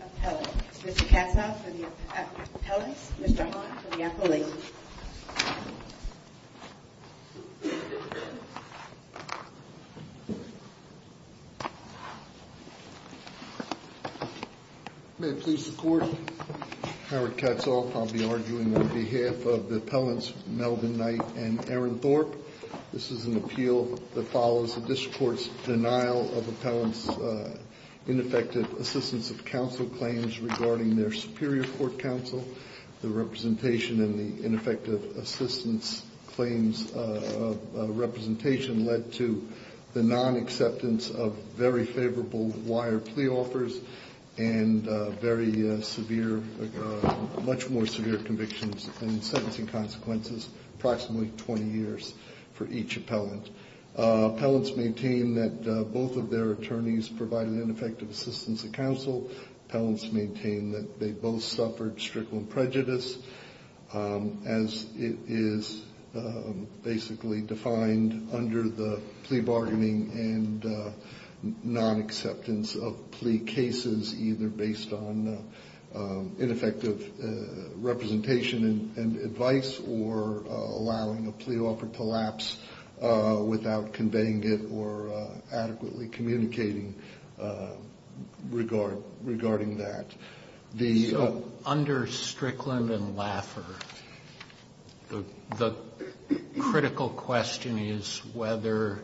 Appellant. Mr. Katzoff for the appellants, Mr. Haunt for the appellate. May it please the court, Howard Katzoff, I'll be arguing on behalf of the appellants Melvin Knight and Aaron Thorpe. This is an appeal that follows the district court's denial of appellants' ineffective assistance of counsel claims regarding their superior court counsel. The representation in the ineffective assistance claims representation led to the non-acceptance of very favorable wire plea offers and very severe, much more severe convictions and sentencing consequences, approximately 20 years for each appellant. Appellants maintain that both of their attorneys provided ineffective assistance of counsel. Appellants maintain that they both suffered strickland prejudice as it is basically defined under the plea bargaining and non-acceptance of plea cases either based on ineffective representation and advice or allowing a plea offer to lapse without conveying it or adequately communicating regarding that. The under strickland and Laffer, the critical question is whether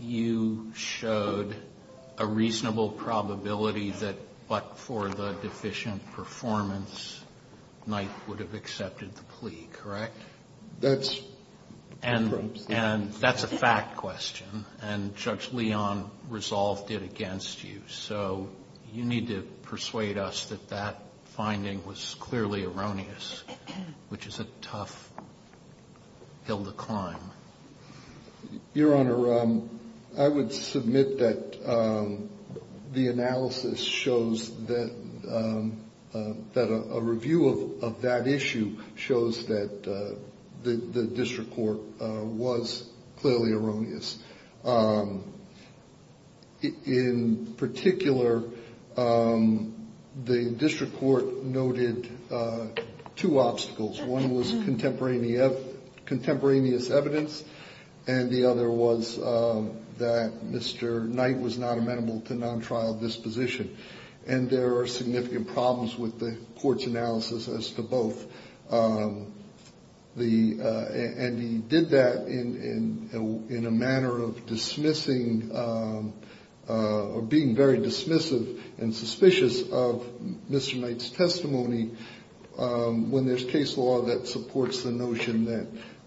you showed a reasonable probability that but for the deficient performance, Knight would have accepted the plea, correct? That's and that's a fact question. And Judge Leon resolved it against you. So you need to persuade us that that finding was clearly erroneous, which is a tough hill to climb. Your Honor, I would submit that the analysis shows that a review of that issue shows that the district court was clearly erroneous. In particular, the district court noted two obstacles. One was contemporaneous evidence and the other was that Mr. Knight was not amenable to non-trial disposition. And there are significant problems with the court's analysis as to both. And he did that in a manner of dismissing or being very dismissive and suspicious of Mr. Knight's testimony when there's case law that supports the notion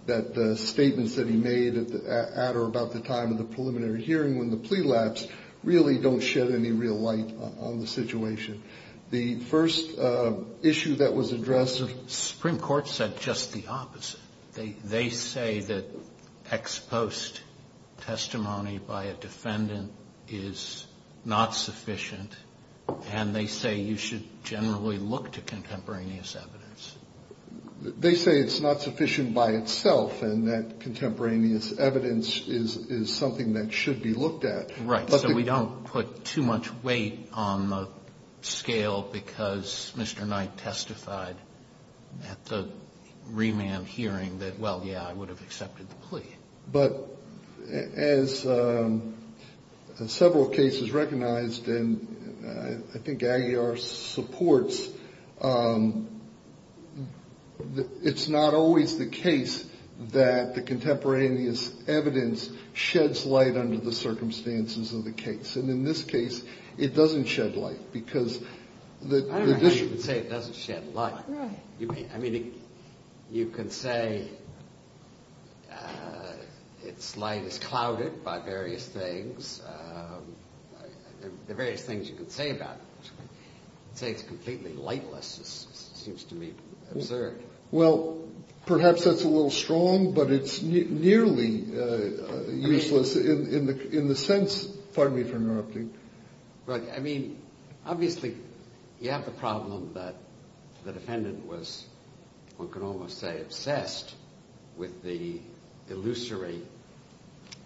that the statements that he made at or about the time of the preliminary hearing when the plea lapsed really don't shed any real light on the situation. The first issue that was addressed. The Supreme Court said just the opposite. They say that ex post testimony by a defendant is not sufficient. And they say you should generally look to contemporaneous evidence. They say it's not sufficient by itself and that contemporaneous evidence is something that should be looked at. Right. So we don't put too much weight on the scale because Mr. Knight testified at the remand hearing that, well, yeah, I would have accepted the plea. But as several cases recognized and I think Aguiar supports, it's not always the case that the contemporaneous evidence sheds light under the circumstances of the case. And in this case, it doesn't shed light because the district. You can say it doesn't shed light. I mean, you can say it's light is clouded by various things. The various things you can say about say it's completely lightless. This seems to me absurd. Well, perhaps that's a little strong, but it's nearly useless in the in the sense. Pardon me for interrupting, but I mean, obviously, you have the problem that the defendant was, one can almost say, obsessed with the illusory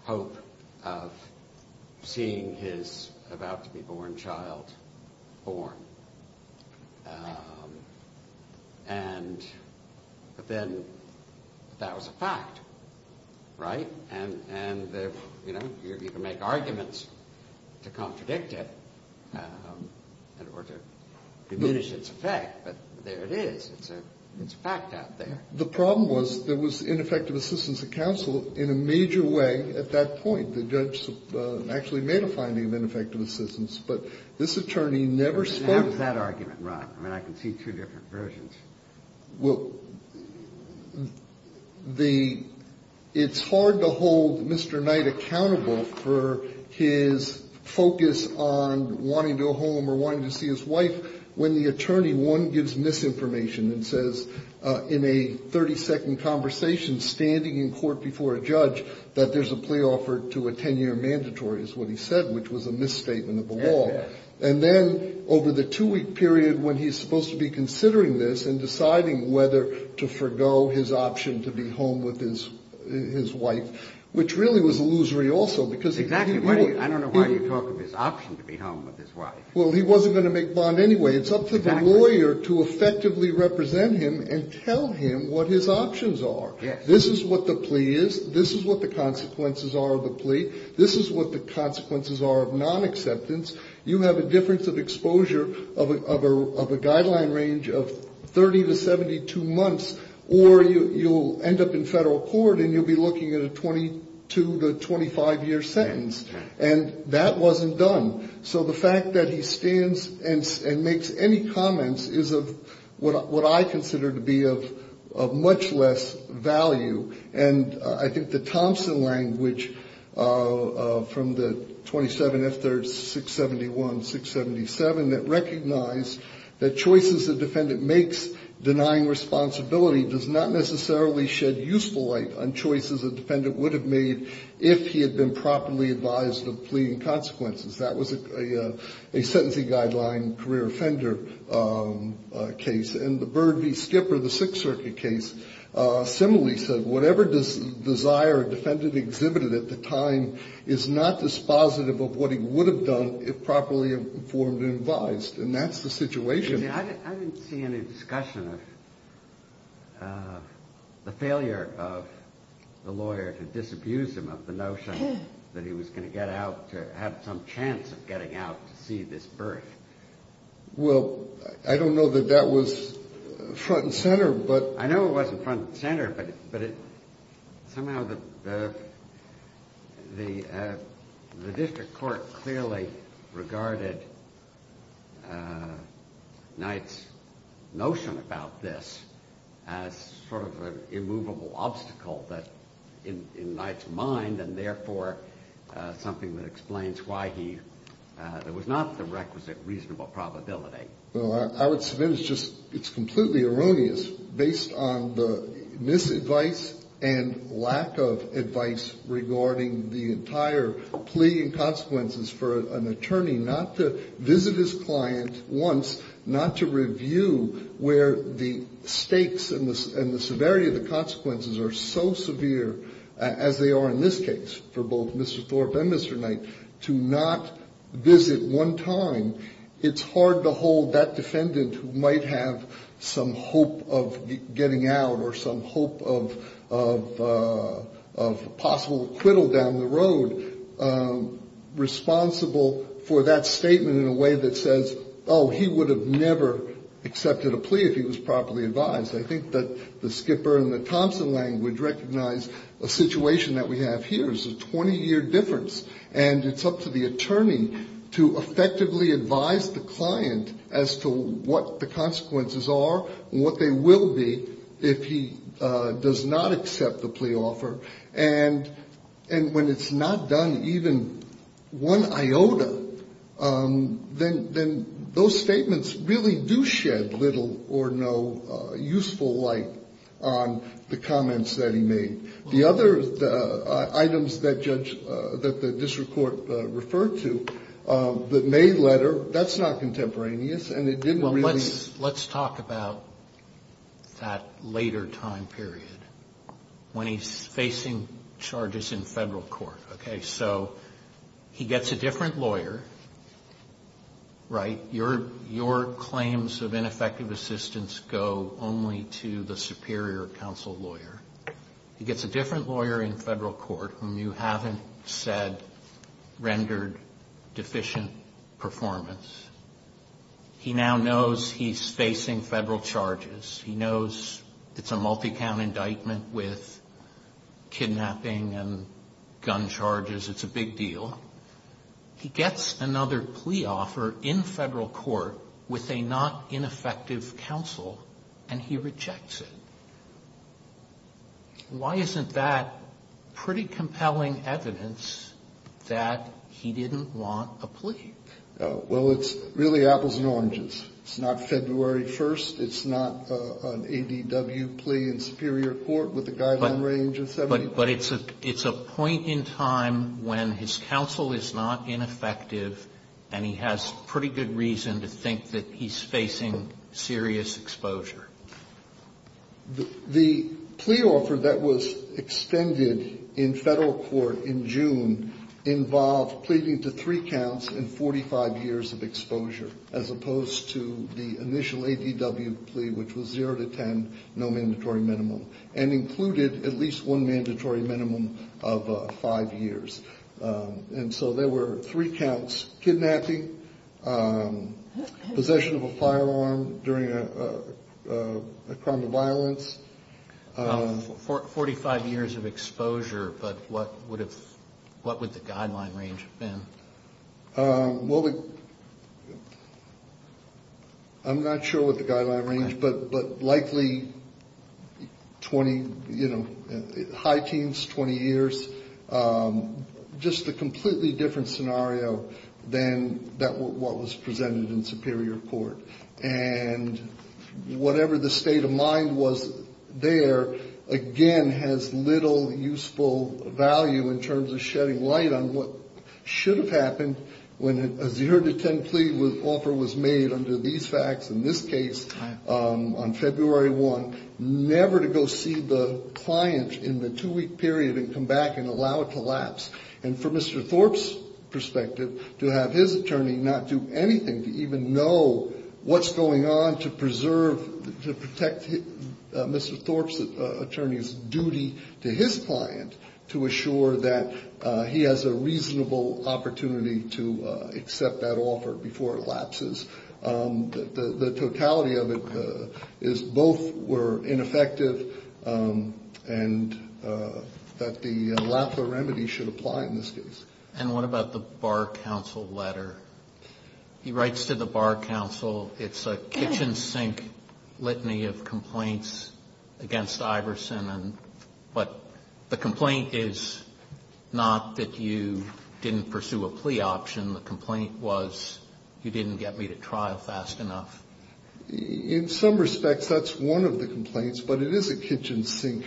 hope of seeing his about to be born child born. And but then that was a fact. Right. And and, you know, you can make arguments to contradict it or to diminish its effect. But there it is. It's a fact out there. The problem was there was ineffective assistance of counsel in a major way at that point. The judge actually made a finding of ineffective assistance, but this attorney never spoke that argument. Right. I mean, I can see two different versions. Well, the it's hard to hold Mr. Knight accountable for his focus on wanting to a home or wanting to see his wife when the attorney one gives misinformation and says in a 30 to a 10 year mandatory is what he said, which was a misstatement of the law. And then over the two week period when he's supposed to be considering this and deciding whether to forgo his option to be home with his his wife, which really was illusory also because exactly what I don't know why you talk of his option to be home with his wife. Well, he wasn't going to make bond anyway. It's up to the lawyer to effectively represent him and tell him what his options are. This is what the plea is. This is what the consequences are of the plea. This is what the consequences are of non-acceptance. You have a difference of exposure of a guideline range of 30 to 72 months or you'll end up in federal court and you'll be looking at a 22 to 25 year sentence. And that wasn't done. So the fact that he stands and makes any comments is of what I consider to be of much less value. And I think the Thompson language from the 27 if there's 671, 677 that recognize that choices the defendant makes denying responsibility does not necessarily shed useful light on choices. A defendant would have made if he had been properly advised of pleading consequences. That was a sentencing guideline career offender case. And the Bird v. Skipper, the Sixth Circuit case, similarly said, whatever does desire a defendant exhibited at the time is not dispositive of what he would have done if properly informed and advised. And that's the situation. I didn't see any discussion of the failure of the lawyer to disabuse him of the notion that he was going to get out to have some chance of getting out to see this birth. Well, I don't know that that was front and center, but I know it wasn't front and center. But but somehow the the the district court clearly regarded Knight's notion about this as sort of an immovable obstacle that in Knight's mind, and therefore something that explains why he was not the requisite reasonable probability. Well, I would submit it's just it's completely erroneous based on the misadvice and lack of advice regarding the entire plea and consequences for an attorney not to visit his client once, not to review where the stakes and the severity of the consequences are so severe as they are in this case for both Mr. Thorpe and Mr. Knight to not visit one time. It's hard to hold that defendant who might have some hope of getting out or some hope of of of possible acquittal down the road responsible for that statement in a way that says, oh, he would have never accepted a plea if he was properly advised. I think that the Skipper and the Thompson language recognize a situation that we have here is a 20 year difference. And it's up to the attorney to effectively advise the client as to what the consequences are and what they will be if he does not accept the plea offer. And when it's not done, even one iota, then those statements really do shed little or no useful light on the comments that he made. The other items that the district court referred to, the May letter, that's not contemporaneous and it didn't really- Let's talk about that later time period when he's facing charges in federal court. So he gets a different lawyer, right? Your claims of ineffective assistance go only to the superior counsel lawyer. He gets a different lawyer in federal court whom you haven't said rendered deficient performance. He now knows he's facing federal charges. He knows it's a multi-count indictment with kidnapping and gun charges. It's a big deal. He gets another plea offer in federal court with a not ineffective counsel and he rejects it. Why isn't that pretty compelling evidence that he didn't want a plea? Well, it's really apples and oranges. It's not February 1st. It's not an ADW plea in superior court with a guideline range of 70. But it's a point in time when his counsel is not ineffective and he has pretty good reason to think that he's facing serious exposure. The plea offer that was extended in federal court in June involved pleading to three counts and 45 years of exposure. As opposed to the initial ADW plea, which was zero to ten, no mandatory minimum. And included at least one mandatory minimum of five years. And so there were three counts, kidnapping, possession of a firearm during a crime of violence. 45 years of exposure, but what would the guideline range have been? I'm not sure what the guideline range, but likely 20, high teens, 20 years. Just a completely different scenario than what was presented in superior court. And whatever the state of mind was there, again, has little useful value in terms of shedding light on what should have happened. When a zero to ten plea offer was made under these facts in this case on February 1. Never to go see the client in the two week period and come back and allow it to lapse. And from Mr. Thorpe's perspective, to have his attorney not do anything to even know what's going on to preserve, to protect Mr. Thorpe's attorney's duty to his client. To assure that he has a reasonable opportunity to accept that offer before it lapses. The totality of it is both were ineffective and that the lapse of remedy should apply in this case. And what about the Bar Council letter? He writes to the Bar Council. It's a kitchen sink litany of complaints against Iverson. But the complaint is not that you didn't pursue a plea option. The complaint was, you didn't get me to trial fast enough. In some respects, that's one of the complaints. But it is a kitchen sink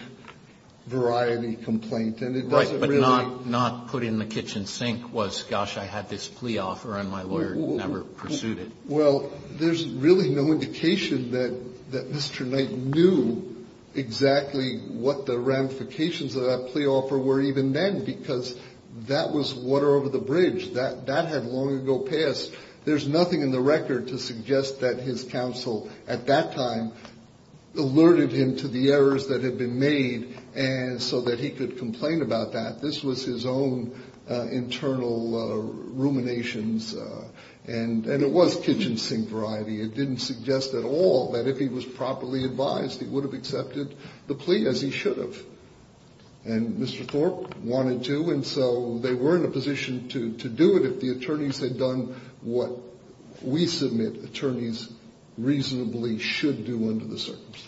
variety complaint. And it doesn't really- Not put in the kitchen sink was, gosh, I had this plea offer and my lawyer never pursued it. Well, there's really no indication that Mr. Knight knew exactly what the ramifications of that plea offer were even then. Because that was water over the bridge. That had long ago passed. There's nothing in the record to suggest that his counsel at that time alerted him to the errors that had been made so that he could complain about that. This was his own internal ruminations and it was kitchen sink variety. It didn't suggest at all that if he was properly advised, he would have accepted the plea as he should have. And Mr. Thorpe wanted to, and so they were in a position to do it. If the attorneys had done what we submit attorneys reasonably should do under the circumstances.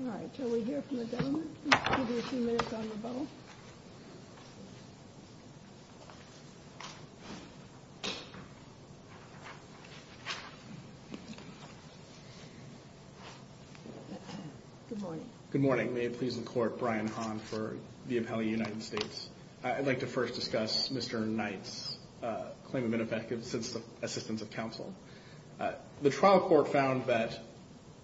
All right, shall we hear from the gentleman? Give him a few minutes on rebuttal. Good morning. May it please the court, Brian Hahn for the appellee United States. I'd like to first discuss Mr. Knight's claim of ineffective assistance of counsel. The trial court found that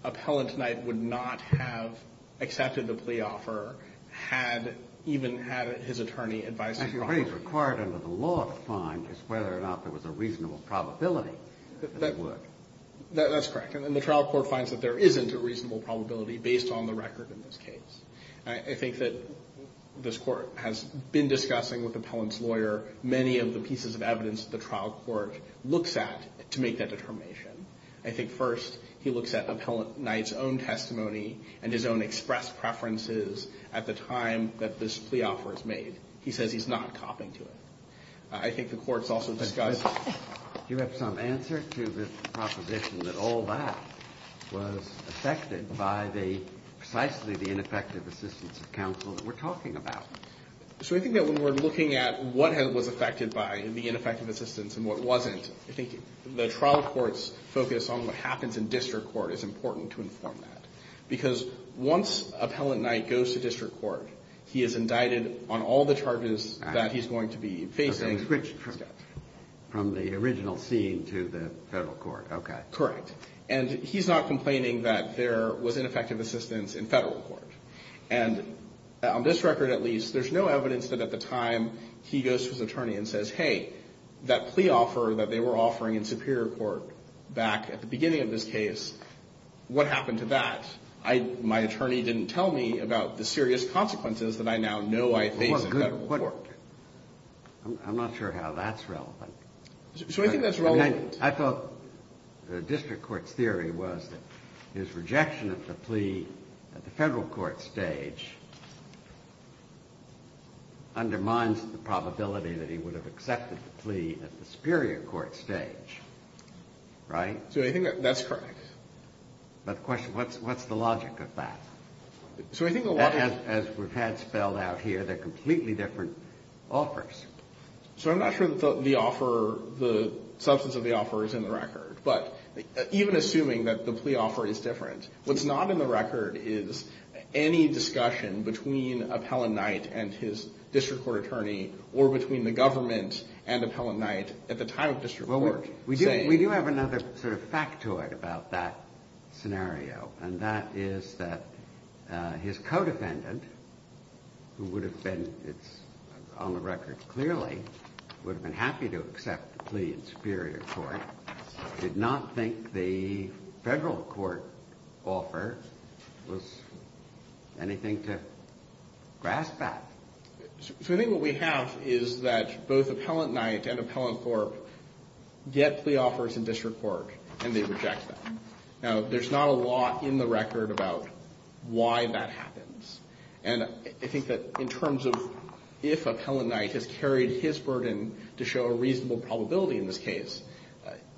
appellant Knight would not have accepted the plea offer had even had his attorney advised him. I think what is required under the law to find is whether or not there was a reasonable probability that it would. That's correct. And the trial court finds that there isn't a reasonable probability based on the record in this case. I think that this court has been discussing with appellant's lawyer many of the pieces of evidence the trial court looks at to make that determination. I think first he looks at appellant Knight's own testimony and his own express preferences at the time that this plea offer is made. He says he's not copying to it. I think the court's also discussed. You have some answer to the proposition that all that was affected by the precisely the ineffective assistance of counsel that we're talking about. So I think that when we're looking at what was affected by the ineffective assistance and what wasn't, I think the trial court's focus on what happens in district court is important to inform that. Because once appellant Knight goes to district court, he is indicted on all the charges that he's going to be facing. Okay, so he switched from the original scene to the federal court, okay. Correct. And he's not complaining that there was ineffective assistance in federal court. And on this record at least, there's no evidence that at the time he goes to his attorney and says, hey, that plea offer that they were offering in superior court back at the beginning of this case, what happened to that? My attorney didn't tell me about the serious consequences that I now know I face in federal court. I'm not sure how that's relevant. So I think that's relevant. I thought the district court's theory was that his rejection of the plea at the federal court stage undermines the probability that he would have accepted the plea at the superior court stage, right? So I think that's correct. But the question, what's the logic of that? As we've had spelled out here, they're completely different offers. So I'm not sure the substance of the offer is in the record, but even assuming that the plea offer is different, what's not in the record is any discussion between Appellant Knight and his district court attorney or between the government and Appellant Knight at the time of district court. We do have another sort of factoid about that scenario, and that is that his co-defendant, who would have been, it's on the record clearly, would have been happy to accept the plea in superior court, did not think the federal court offer was anything to grasp at. So I think what we have is that both Appellant Knight and Appellant Thorpe get plea offers in district court, and they reject them. Now, there's not a lot in the record about why that happens. And I think that in terms of if Appellant Knight has carried his burden to show a reasonable probability in this case,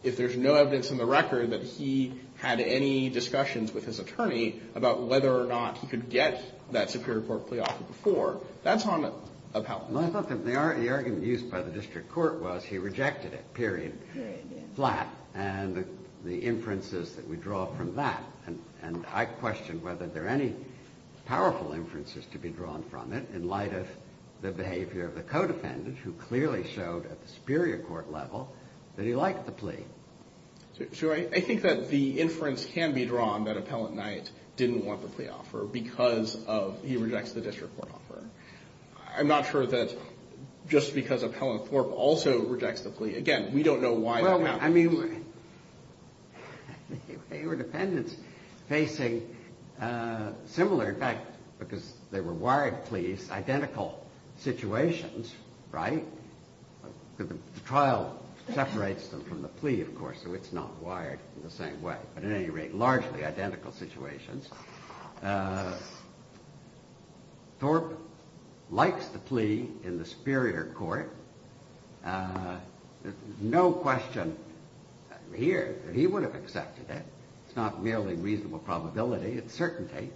if there's no evidence in the record that he had any discussions with his attorney about whether or not he could get that superior court plea offer before, I thought that the argument used by the district court was he rejected it, period, flat. And the inferences that we draw from that, and I question whether there are any powerful inferences to be drawn from it in light of the behavior of the co-defendant, who clearly showed at the superior court level that he liked the plea. So I think that the inference can be drawn that Appellant Knight didn't want the plea offer because he rejects the district court offer. I'm not sure that just because Appellant Thorpe also rejects the plea. Again, we don't know why that happens. Well, I mean, they were defendants facing similar, in fact, because they were wired pleas, identical situations, right? The trial separates them from the plea, of course, so it's not wired in the same way. But at any rate, largely identical situations. Thorpe likes the plea in the superior court. There's no question here that he would have accepted it. It's not really reasonable probability. It's certainty.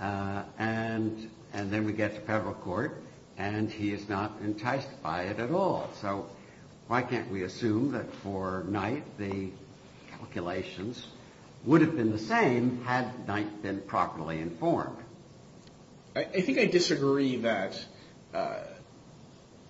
And then we get to federal court, and he is not enticed by it at all. So why can't we assume that for Knight the calculations would have been the same had Knight been properly informed? I think I disagree that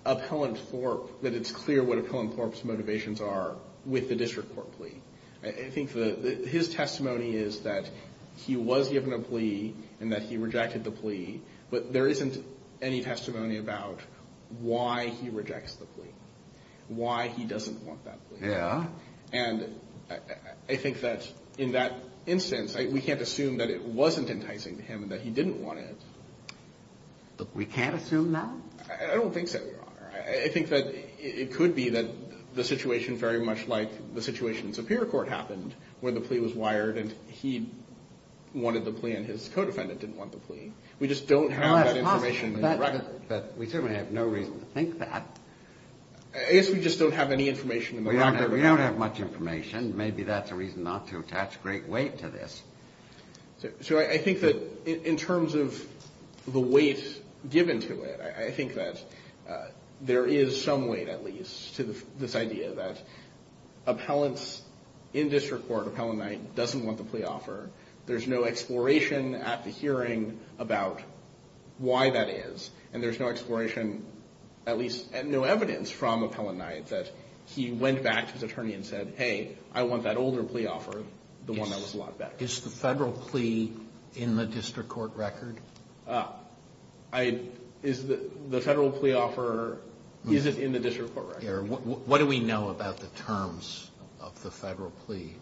Appellant Thorpe, that it's clear what Appellant Thorpe's motivations are with the district court plea. I think his testimony is that he was given a plea and that he rejected the plea, but there isn't any testimony about why he rejects the plea, why he doesn't want that plea. Yeah. And I think that in that instance, we can't assume that it wasn't enticing to him and that he didn't want it. We can't assume that? I don't think so, Your Honor. I think that it could be that the situation very much like the situation in superior court happened, where the plea was wired and he wanted the plea and his codefendant didn't want the plea. We just don't have that information in the record. But we certainly have no reason to think that. I guess we just don't have any information in the record. We don't have much information. Maybe that's a reason not to attach great weight to this. So I think that in terms of the weight given to it, I think that there is some weight, at least, to this idea that appellants in district court, Appellant Knight, doesn't want the plea offer. There's no exploration at the hearing about why that is. And there's no exploration, at least no evidence from Appellant Knight that he went back to his attorney and said, hey, I want that older plea offer, the one that was a lot better. Is the Federal plea in the district court record? The Federal plea offer isn't in the district court record. What do we know about the terms of the Federal plea?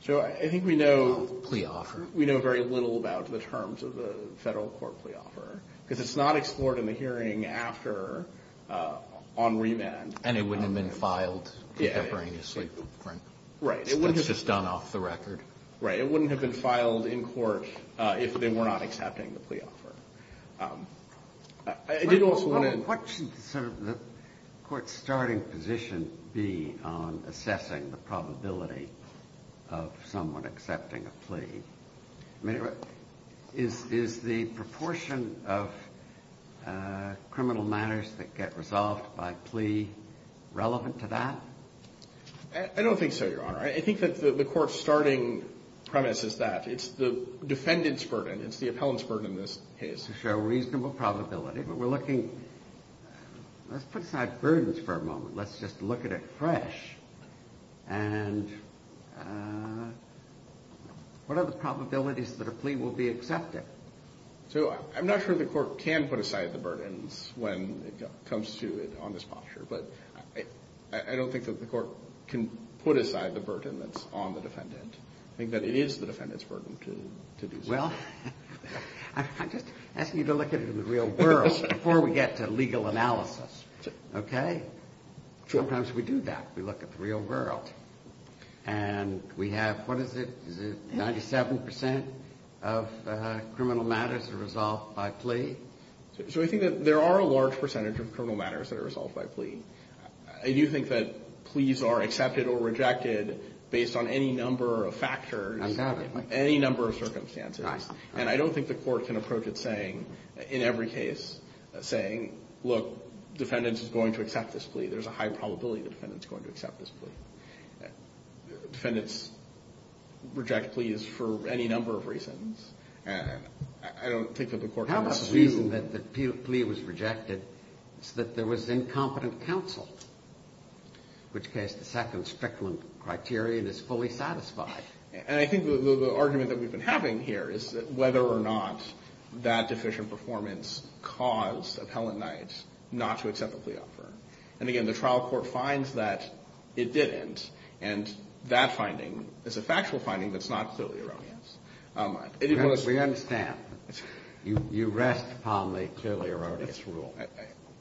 So I think we know very little about the terms of the Federal court plea offer because it's not explored in the hearing after on remand. And it wouldn't have been filed contemporaneously. Right. It's just done off the record. Right. It wouldn't have been filed in court if they were not accepting the plea offer. What should the court's starting position be on assessing the probability of someone accepting a plea? I mean, is the proportion of criminal matters that get resolved by plea relevant to that? I don't think so, Your Honor. I think that the court's starting premise is that. It's the defendant's burden. Let's put aside burdens for a moment. Let's just look at it fresh. And what are the probabilities that a plea will be accepted? So I'm not sure the court can put aside the burdens when it comes to it on this posture. But I don't think that the court can put aside the burden that's on the defendant. I think that it is the defendant's burden to do so. Well, I'm just asking you to look at it in the real world before we get to legal analysis. Okay? Sometimes we do that. We look at the real world. And we have, what is it, 97% of criminal matters are resolved by plea? So I think that there are a large percentage of criminal matters that are resolved by plea. I do think that pleas are accepted or rejected based on any number of factors. I doubt it. Any number of circumstances. Right. And I don't think the court can approach it saying, in every case, saying, look, defendant is going to accept this plea. There's a high probability the defendant is going to accept this plea. Defendants reject pleas for any number of reasons. I don't think that the court can assume. The reason that the plea was rejected is that there was incompetent counsel, in which case the second strictly criterion is fully satisfied. And I think the argument that we've been having here is whether or not that deficient performance caused Appellant Knight not to accept the plea offer. And, again, the trial court finds that it didn't, and that finding is a factual finding that's not clearly erroneous. We understand. You rest upon the clearly erroneous rule.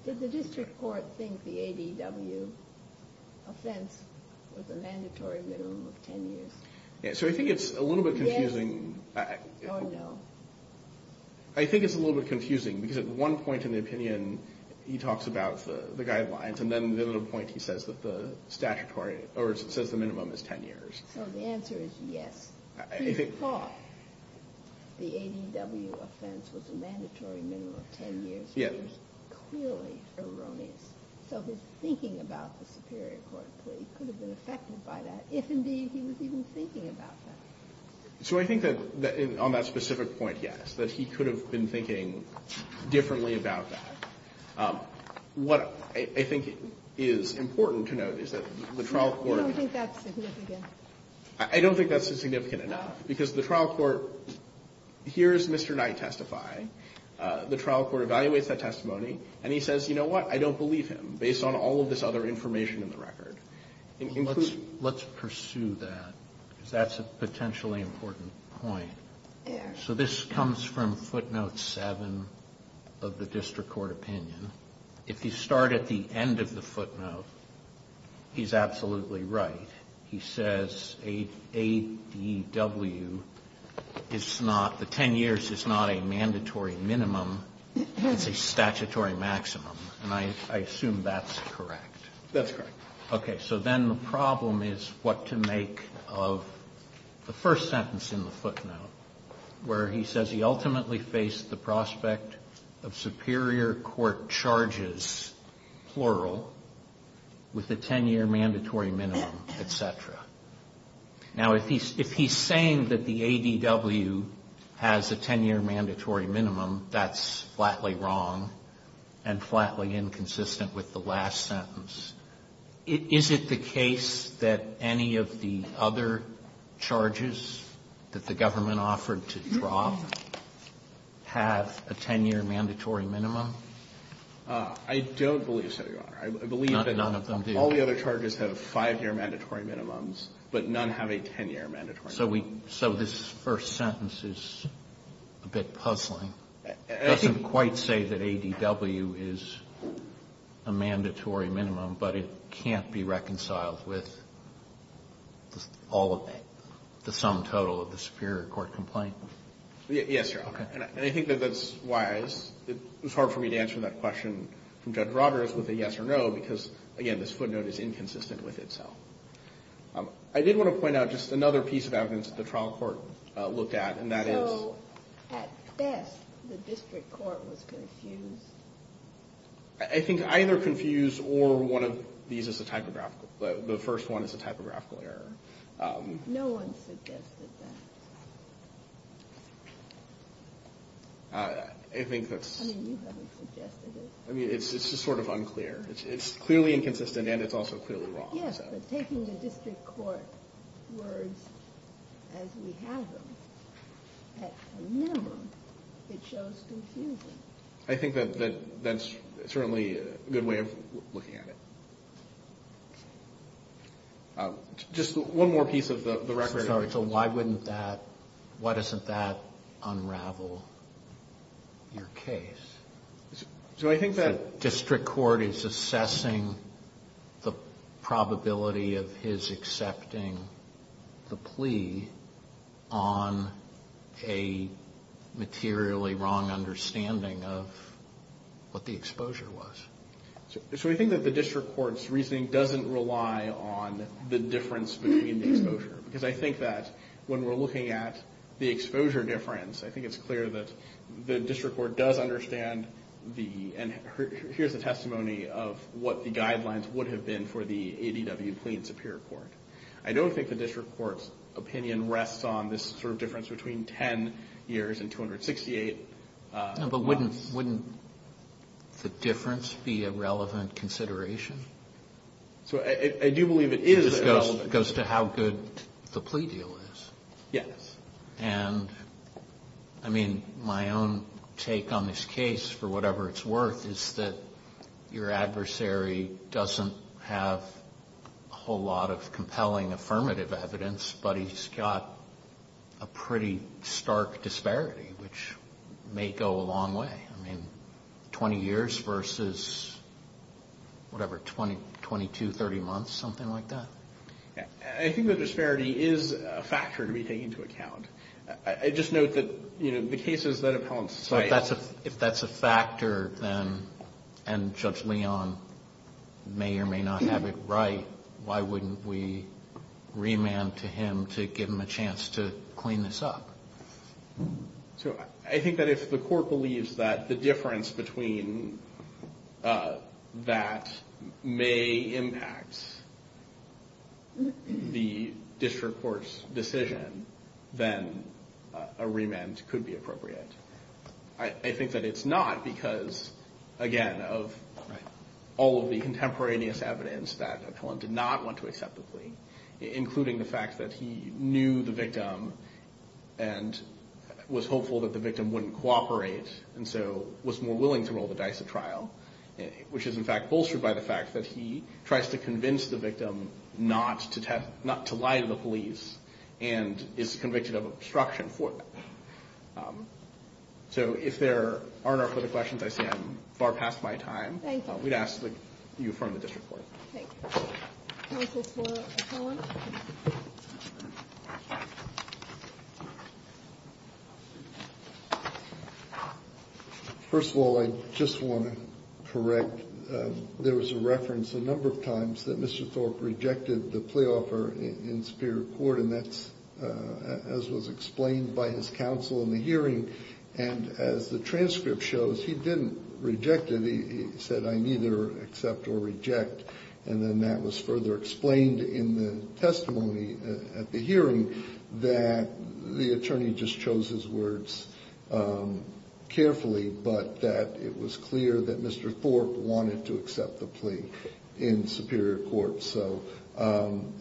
Did the district court think the ADW offense was a mandatory minimum of 10 years? So I think it's a little bit confusing. Yes or no? I think it's a little bit confusing because at one point in the opinion, he talks about the guidelines, and then at a point he says that the statutory, or says the minimum is 10 years. So the answer is yes. He thought the ADW offense was a mandatory minimum of 10 years, which is clearly erroneous. So his thinking about the superior court plea could have been affected by that, if, indeed, he was even thinking about that. So I think that on that specific point, yes, that he could have been thinking differently about that. What I think is important to note is that the trial court You don't think that's significant? I don't think that's significant enough, because the trial court hears Mr. Knight testify. The trial court evaluates that testimony, and he says, you know what? I don't believe him, based on all of this other information in the record. Let's pursue that, because that's a potentially important point. So this comes from footnote 7 of the district court opinion. If you start at the end of the footnote, he's absolutely right. He says ADW is not the 10 years is not a mandatory minimum. It's a statutory maximum, and I assume that's correct. That's correct. Okay. So then the problem is what to make of the first sentence in the footnote, where he says he ultimately faced the prospect of superior court charges, plural, with a 10-year mandatory minimum, et cetera. Now, if he's saying that the ADW has a 10-year mandatory minimum, that's flatly wrong and flatly inconsistent with the last sentence. Is it the case that any of the other charges that the government offered to drop have a 10-year mandatory minimum? I don't believe so, Your Honor. I believe that all the other charges have 5-year mandatory minimums, but none have a 10-year mandatory minimum. So this first sentence is a bit puzzling. It doesn't quite say that ADW is a mandatory minimum, but it can't be reconciled with all of the sum total of the superior court complaint. Yes, Your Honor. And I think that that's why it was hard for me to answer that question from Judge Roberts with a yes or no, because, again, this footnote is inconsistent with itself. I did want to point out just another piece of evidence that the trial court looked at, and that is... So, at best, the district court was confused? I think either confused or one of these is a typographical. The first one is a typographical error. No one suggested that. I think that's... I mean, you haven't suggested it. I mean, it's just sort of unclear. It's clearly inconsistent, and it's also clearly wrong. Yes, but taking the district court words as we have them, at a minimum, it shows confusion. I think that that's certainly a good way of looking at it. Just one more piece of the record. I'm sorry. So why wouldn't that... Why doesn't that unravel your case? So I think that... The district court is assessing the probability of his accepting the plea on a materially wrong understanding of what the exposure was. So we think that the district court's reasoning doesn't rely on the difference between the exposure, because I think that when we're looking at the exposure difference, I think it's clear that the district court does understand the... And here's the testimony of what the guidelines would have been for the ADW plea in Superior Court. I don't think the district court's opinion rests on this sort of difference between 10 years and 268 months. No, but wouldn't the difference be a relevant consideration? So I do believe it is relevant. It just goes to how good the plea deal is. Yes. And, I mean, my own take on this case, for whatever it's worth, is that your adversary doesn't have a whole lot of I mean, 20 years versus, whatever, 20, 22, 30 months, something like that? I think the disparity is a factor to be taken into account. I just note that, you know, the cases that appellants file... So if that's a factor, then, and Judge Leon may or may not have it right, why wouldn't we remand to him to give him a chance to clean this up? So I think that if the court believes that the difference between that may impact the district court's decision, then a remand could be appropriate. I think that it's not because, again, of all of the contemporaneous evidence that appellant did not want to accept the plea, including the fact that he knew the victim and was hopeful that the victim wouldn't cooperate, and so was more willing to roll the dice at trial, which is, in fact, bolstered by the fact that he tries to convince the victim not to lie to the police and is convicted of obstruction for that. So if there are no further questions, I see I'm far past my time. Thank you. We'd ask that you affirm the district court. Okay. Counsel for appellant. First of all, I just want to correct. There was a reference a number of times that Mr. Thorpe rejected the plea offer in Superior Court, and that's as was explained by his counsel in the hearing. And as the transcript shows, he didn't reject it. He said, I neither accept or reject. And then that was further explained in the testimony at the hearing that the attorney just chose his words carefully, but that it was clear that Mr. Thorpe wanted to accept the plea in Superior Court. So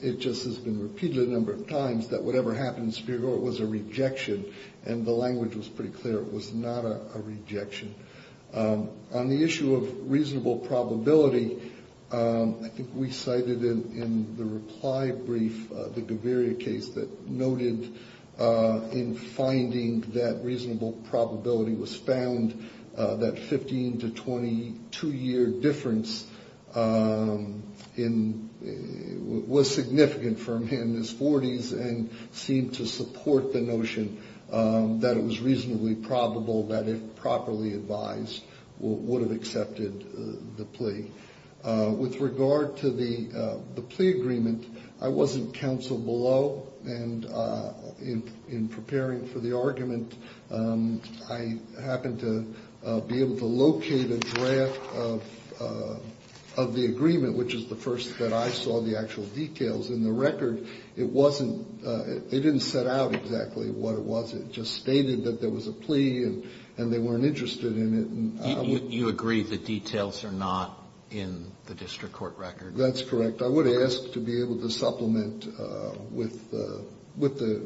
it just has been repeated a number of times that whatever happened in Superior Court was a rejection, and the language was pretty clear. It was not a rejection. On the issue of reasonable probability, I think we cited in the reply brief the Gaviria case that noted in finding that reasonable probability was found that 15 to 22-year difference was significant for him in his 40s and seemed to support the notion that it was reasonably probable that if properly advised, would have accepted the plea. With regard to the plea agreement, I wasn't counsel below, and in preparing for the argument, I happened to be able to locate a draft of the agreement, which is the first that I saw the actual details. In the record, it didn't set out exactly what it was. It just stated that there was a plea, and they weren't interested in it. You agree the details are not in the district court record? That's correct. I would ask to be able to supplement with the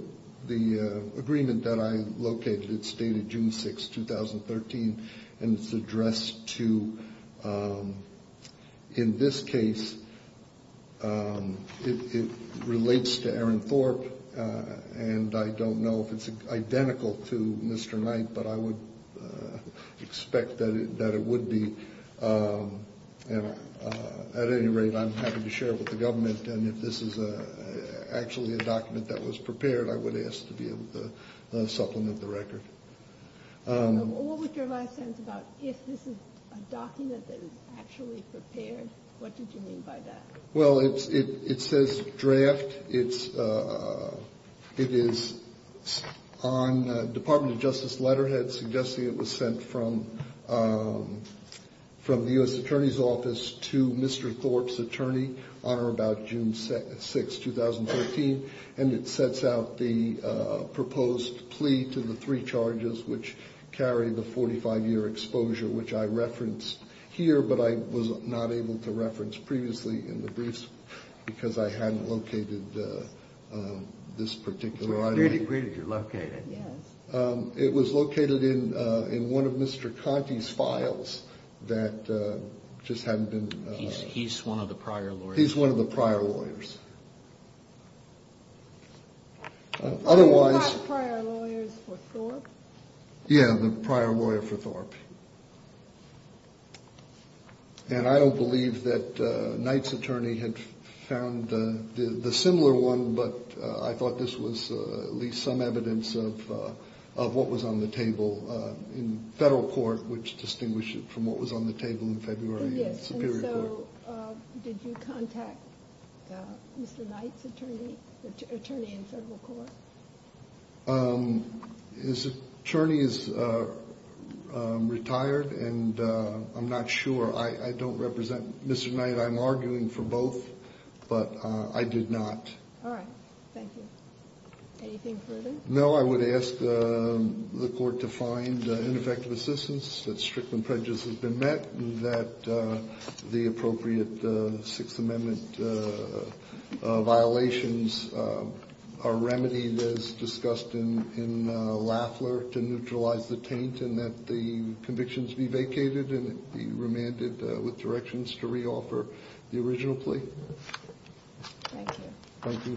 agreement that I located. It's dated June 6, 2013, and it's addressed to, in this case, it relates to Aaron Thorpe, and I don't know if it's identical to Mr. Knight, but I would expect that it would be. At any rate, I'm happy to share it with the government, and if this is actually a document that was prepared, I would ask to be able to supplement the record. What was your last sentence about if this is a document that is actually prepared? What did you mean by that? Well, it says draft. It is on the Department of Justice letterhead suggesting it was sent from the U.S. Attorney's office to Mr. Thorpe's attorney on or about June 6, 2013, and it sets out the proposed plea to the three charges which carry the 45-year exposure, which I referenced here but I was not able to reference previously in the briefs because I hadn't located this particular item. So it's pretty clear you're located. Yes. It was located in one of Mr. Conte's files that just hadn't been- He's one of the prior lawyers. He's one of the prior lawyers. Otherwise- Are you talking about the prior lawyers for Thorpe? Yeah, the prior lawyer for Thorpe. And I don't believe that Knight's attorney had found the similar one, but I thought this was at least some evidence of what was on the table in federal court, which distinguished it from what was on the table in February in the Superior Court. Yes, and so did you contact Mr. Knight's attorney, attorney in federal court? His attorney is retired, and I'm not sure. I don't represent Mr. Knight. I'm arguing for both, but I did not. All right. Thank you. Anything further? No, I would ask the Court to find ineffective assistance that Strickland prejudice has been met and that the appropriate Sixth Amendment violations are remedied as discussed in Lafler to neutralize the taint and that the convictions be vacated and be remanded with directions to reoffer the original plea. Thank you. Thank you.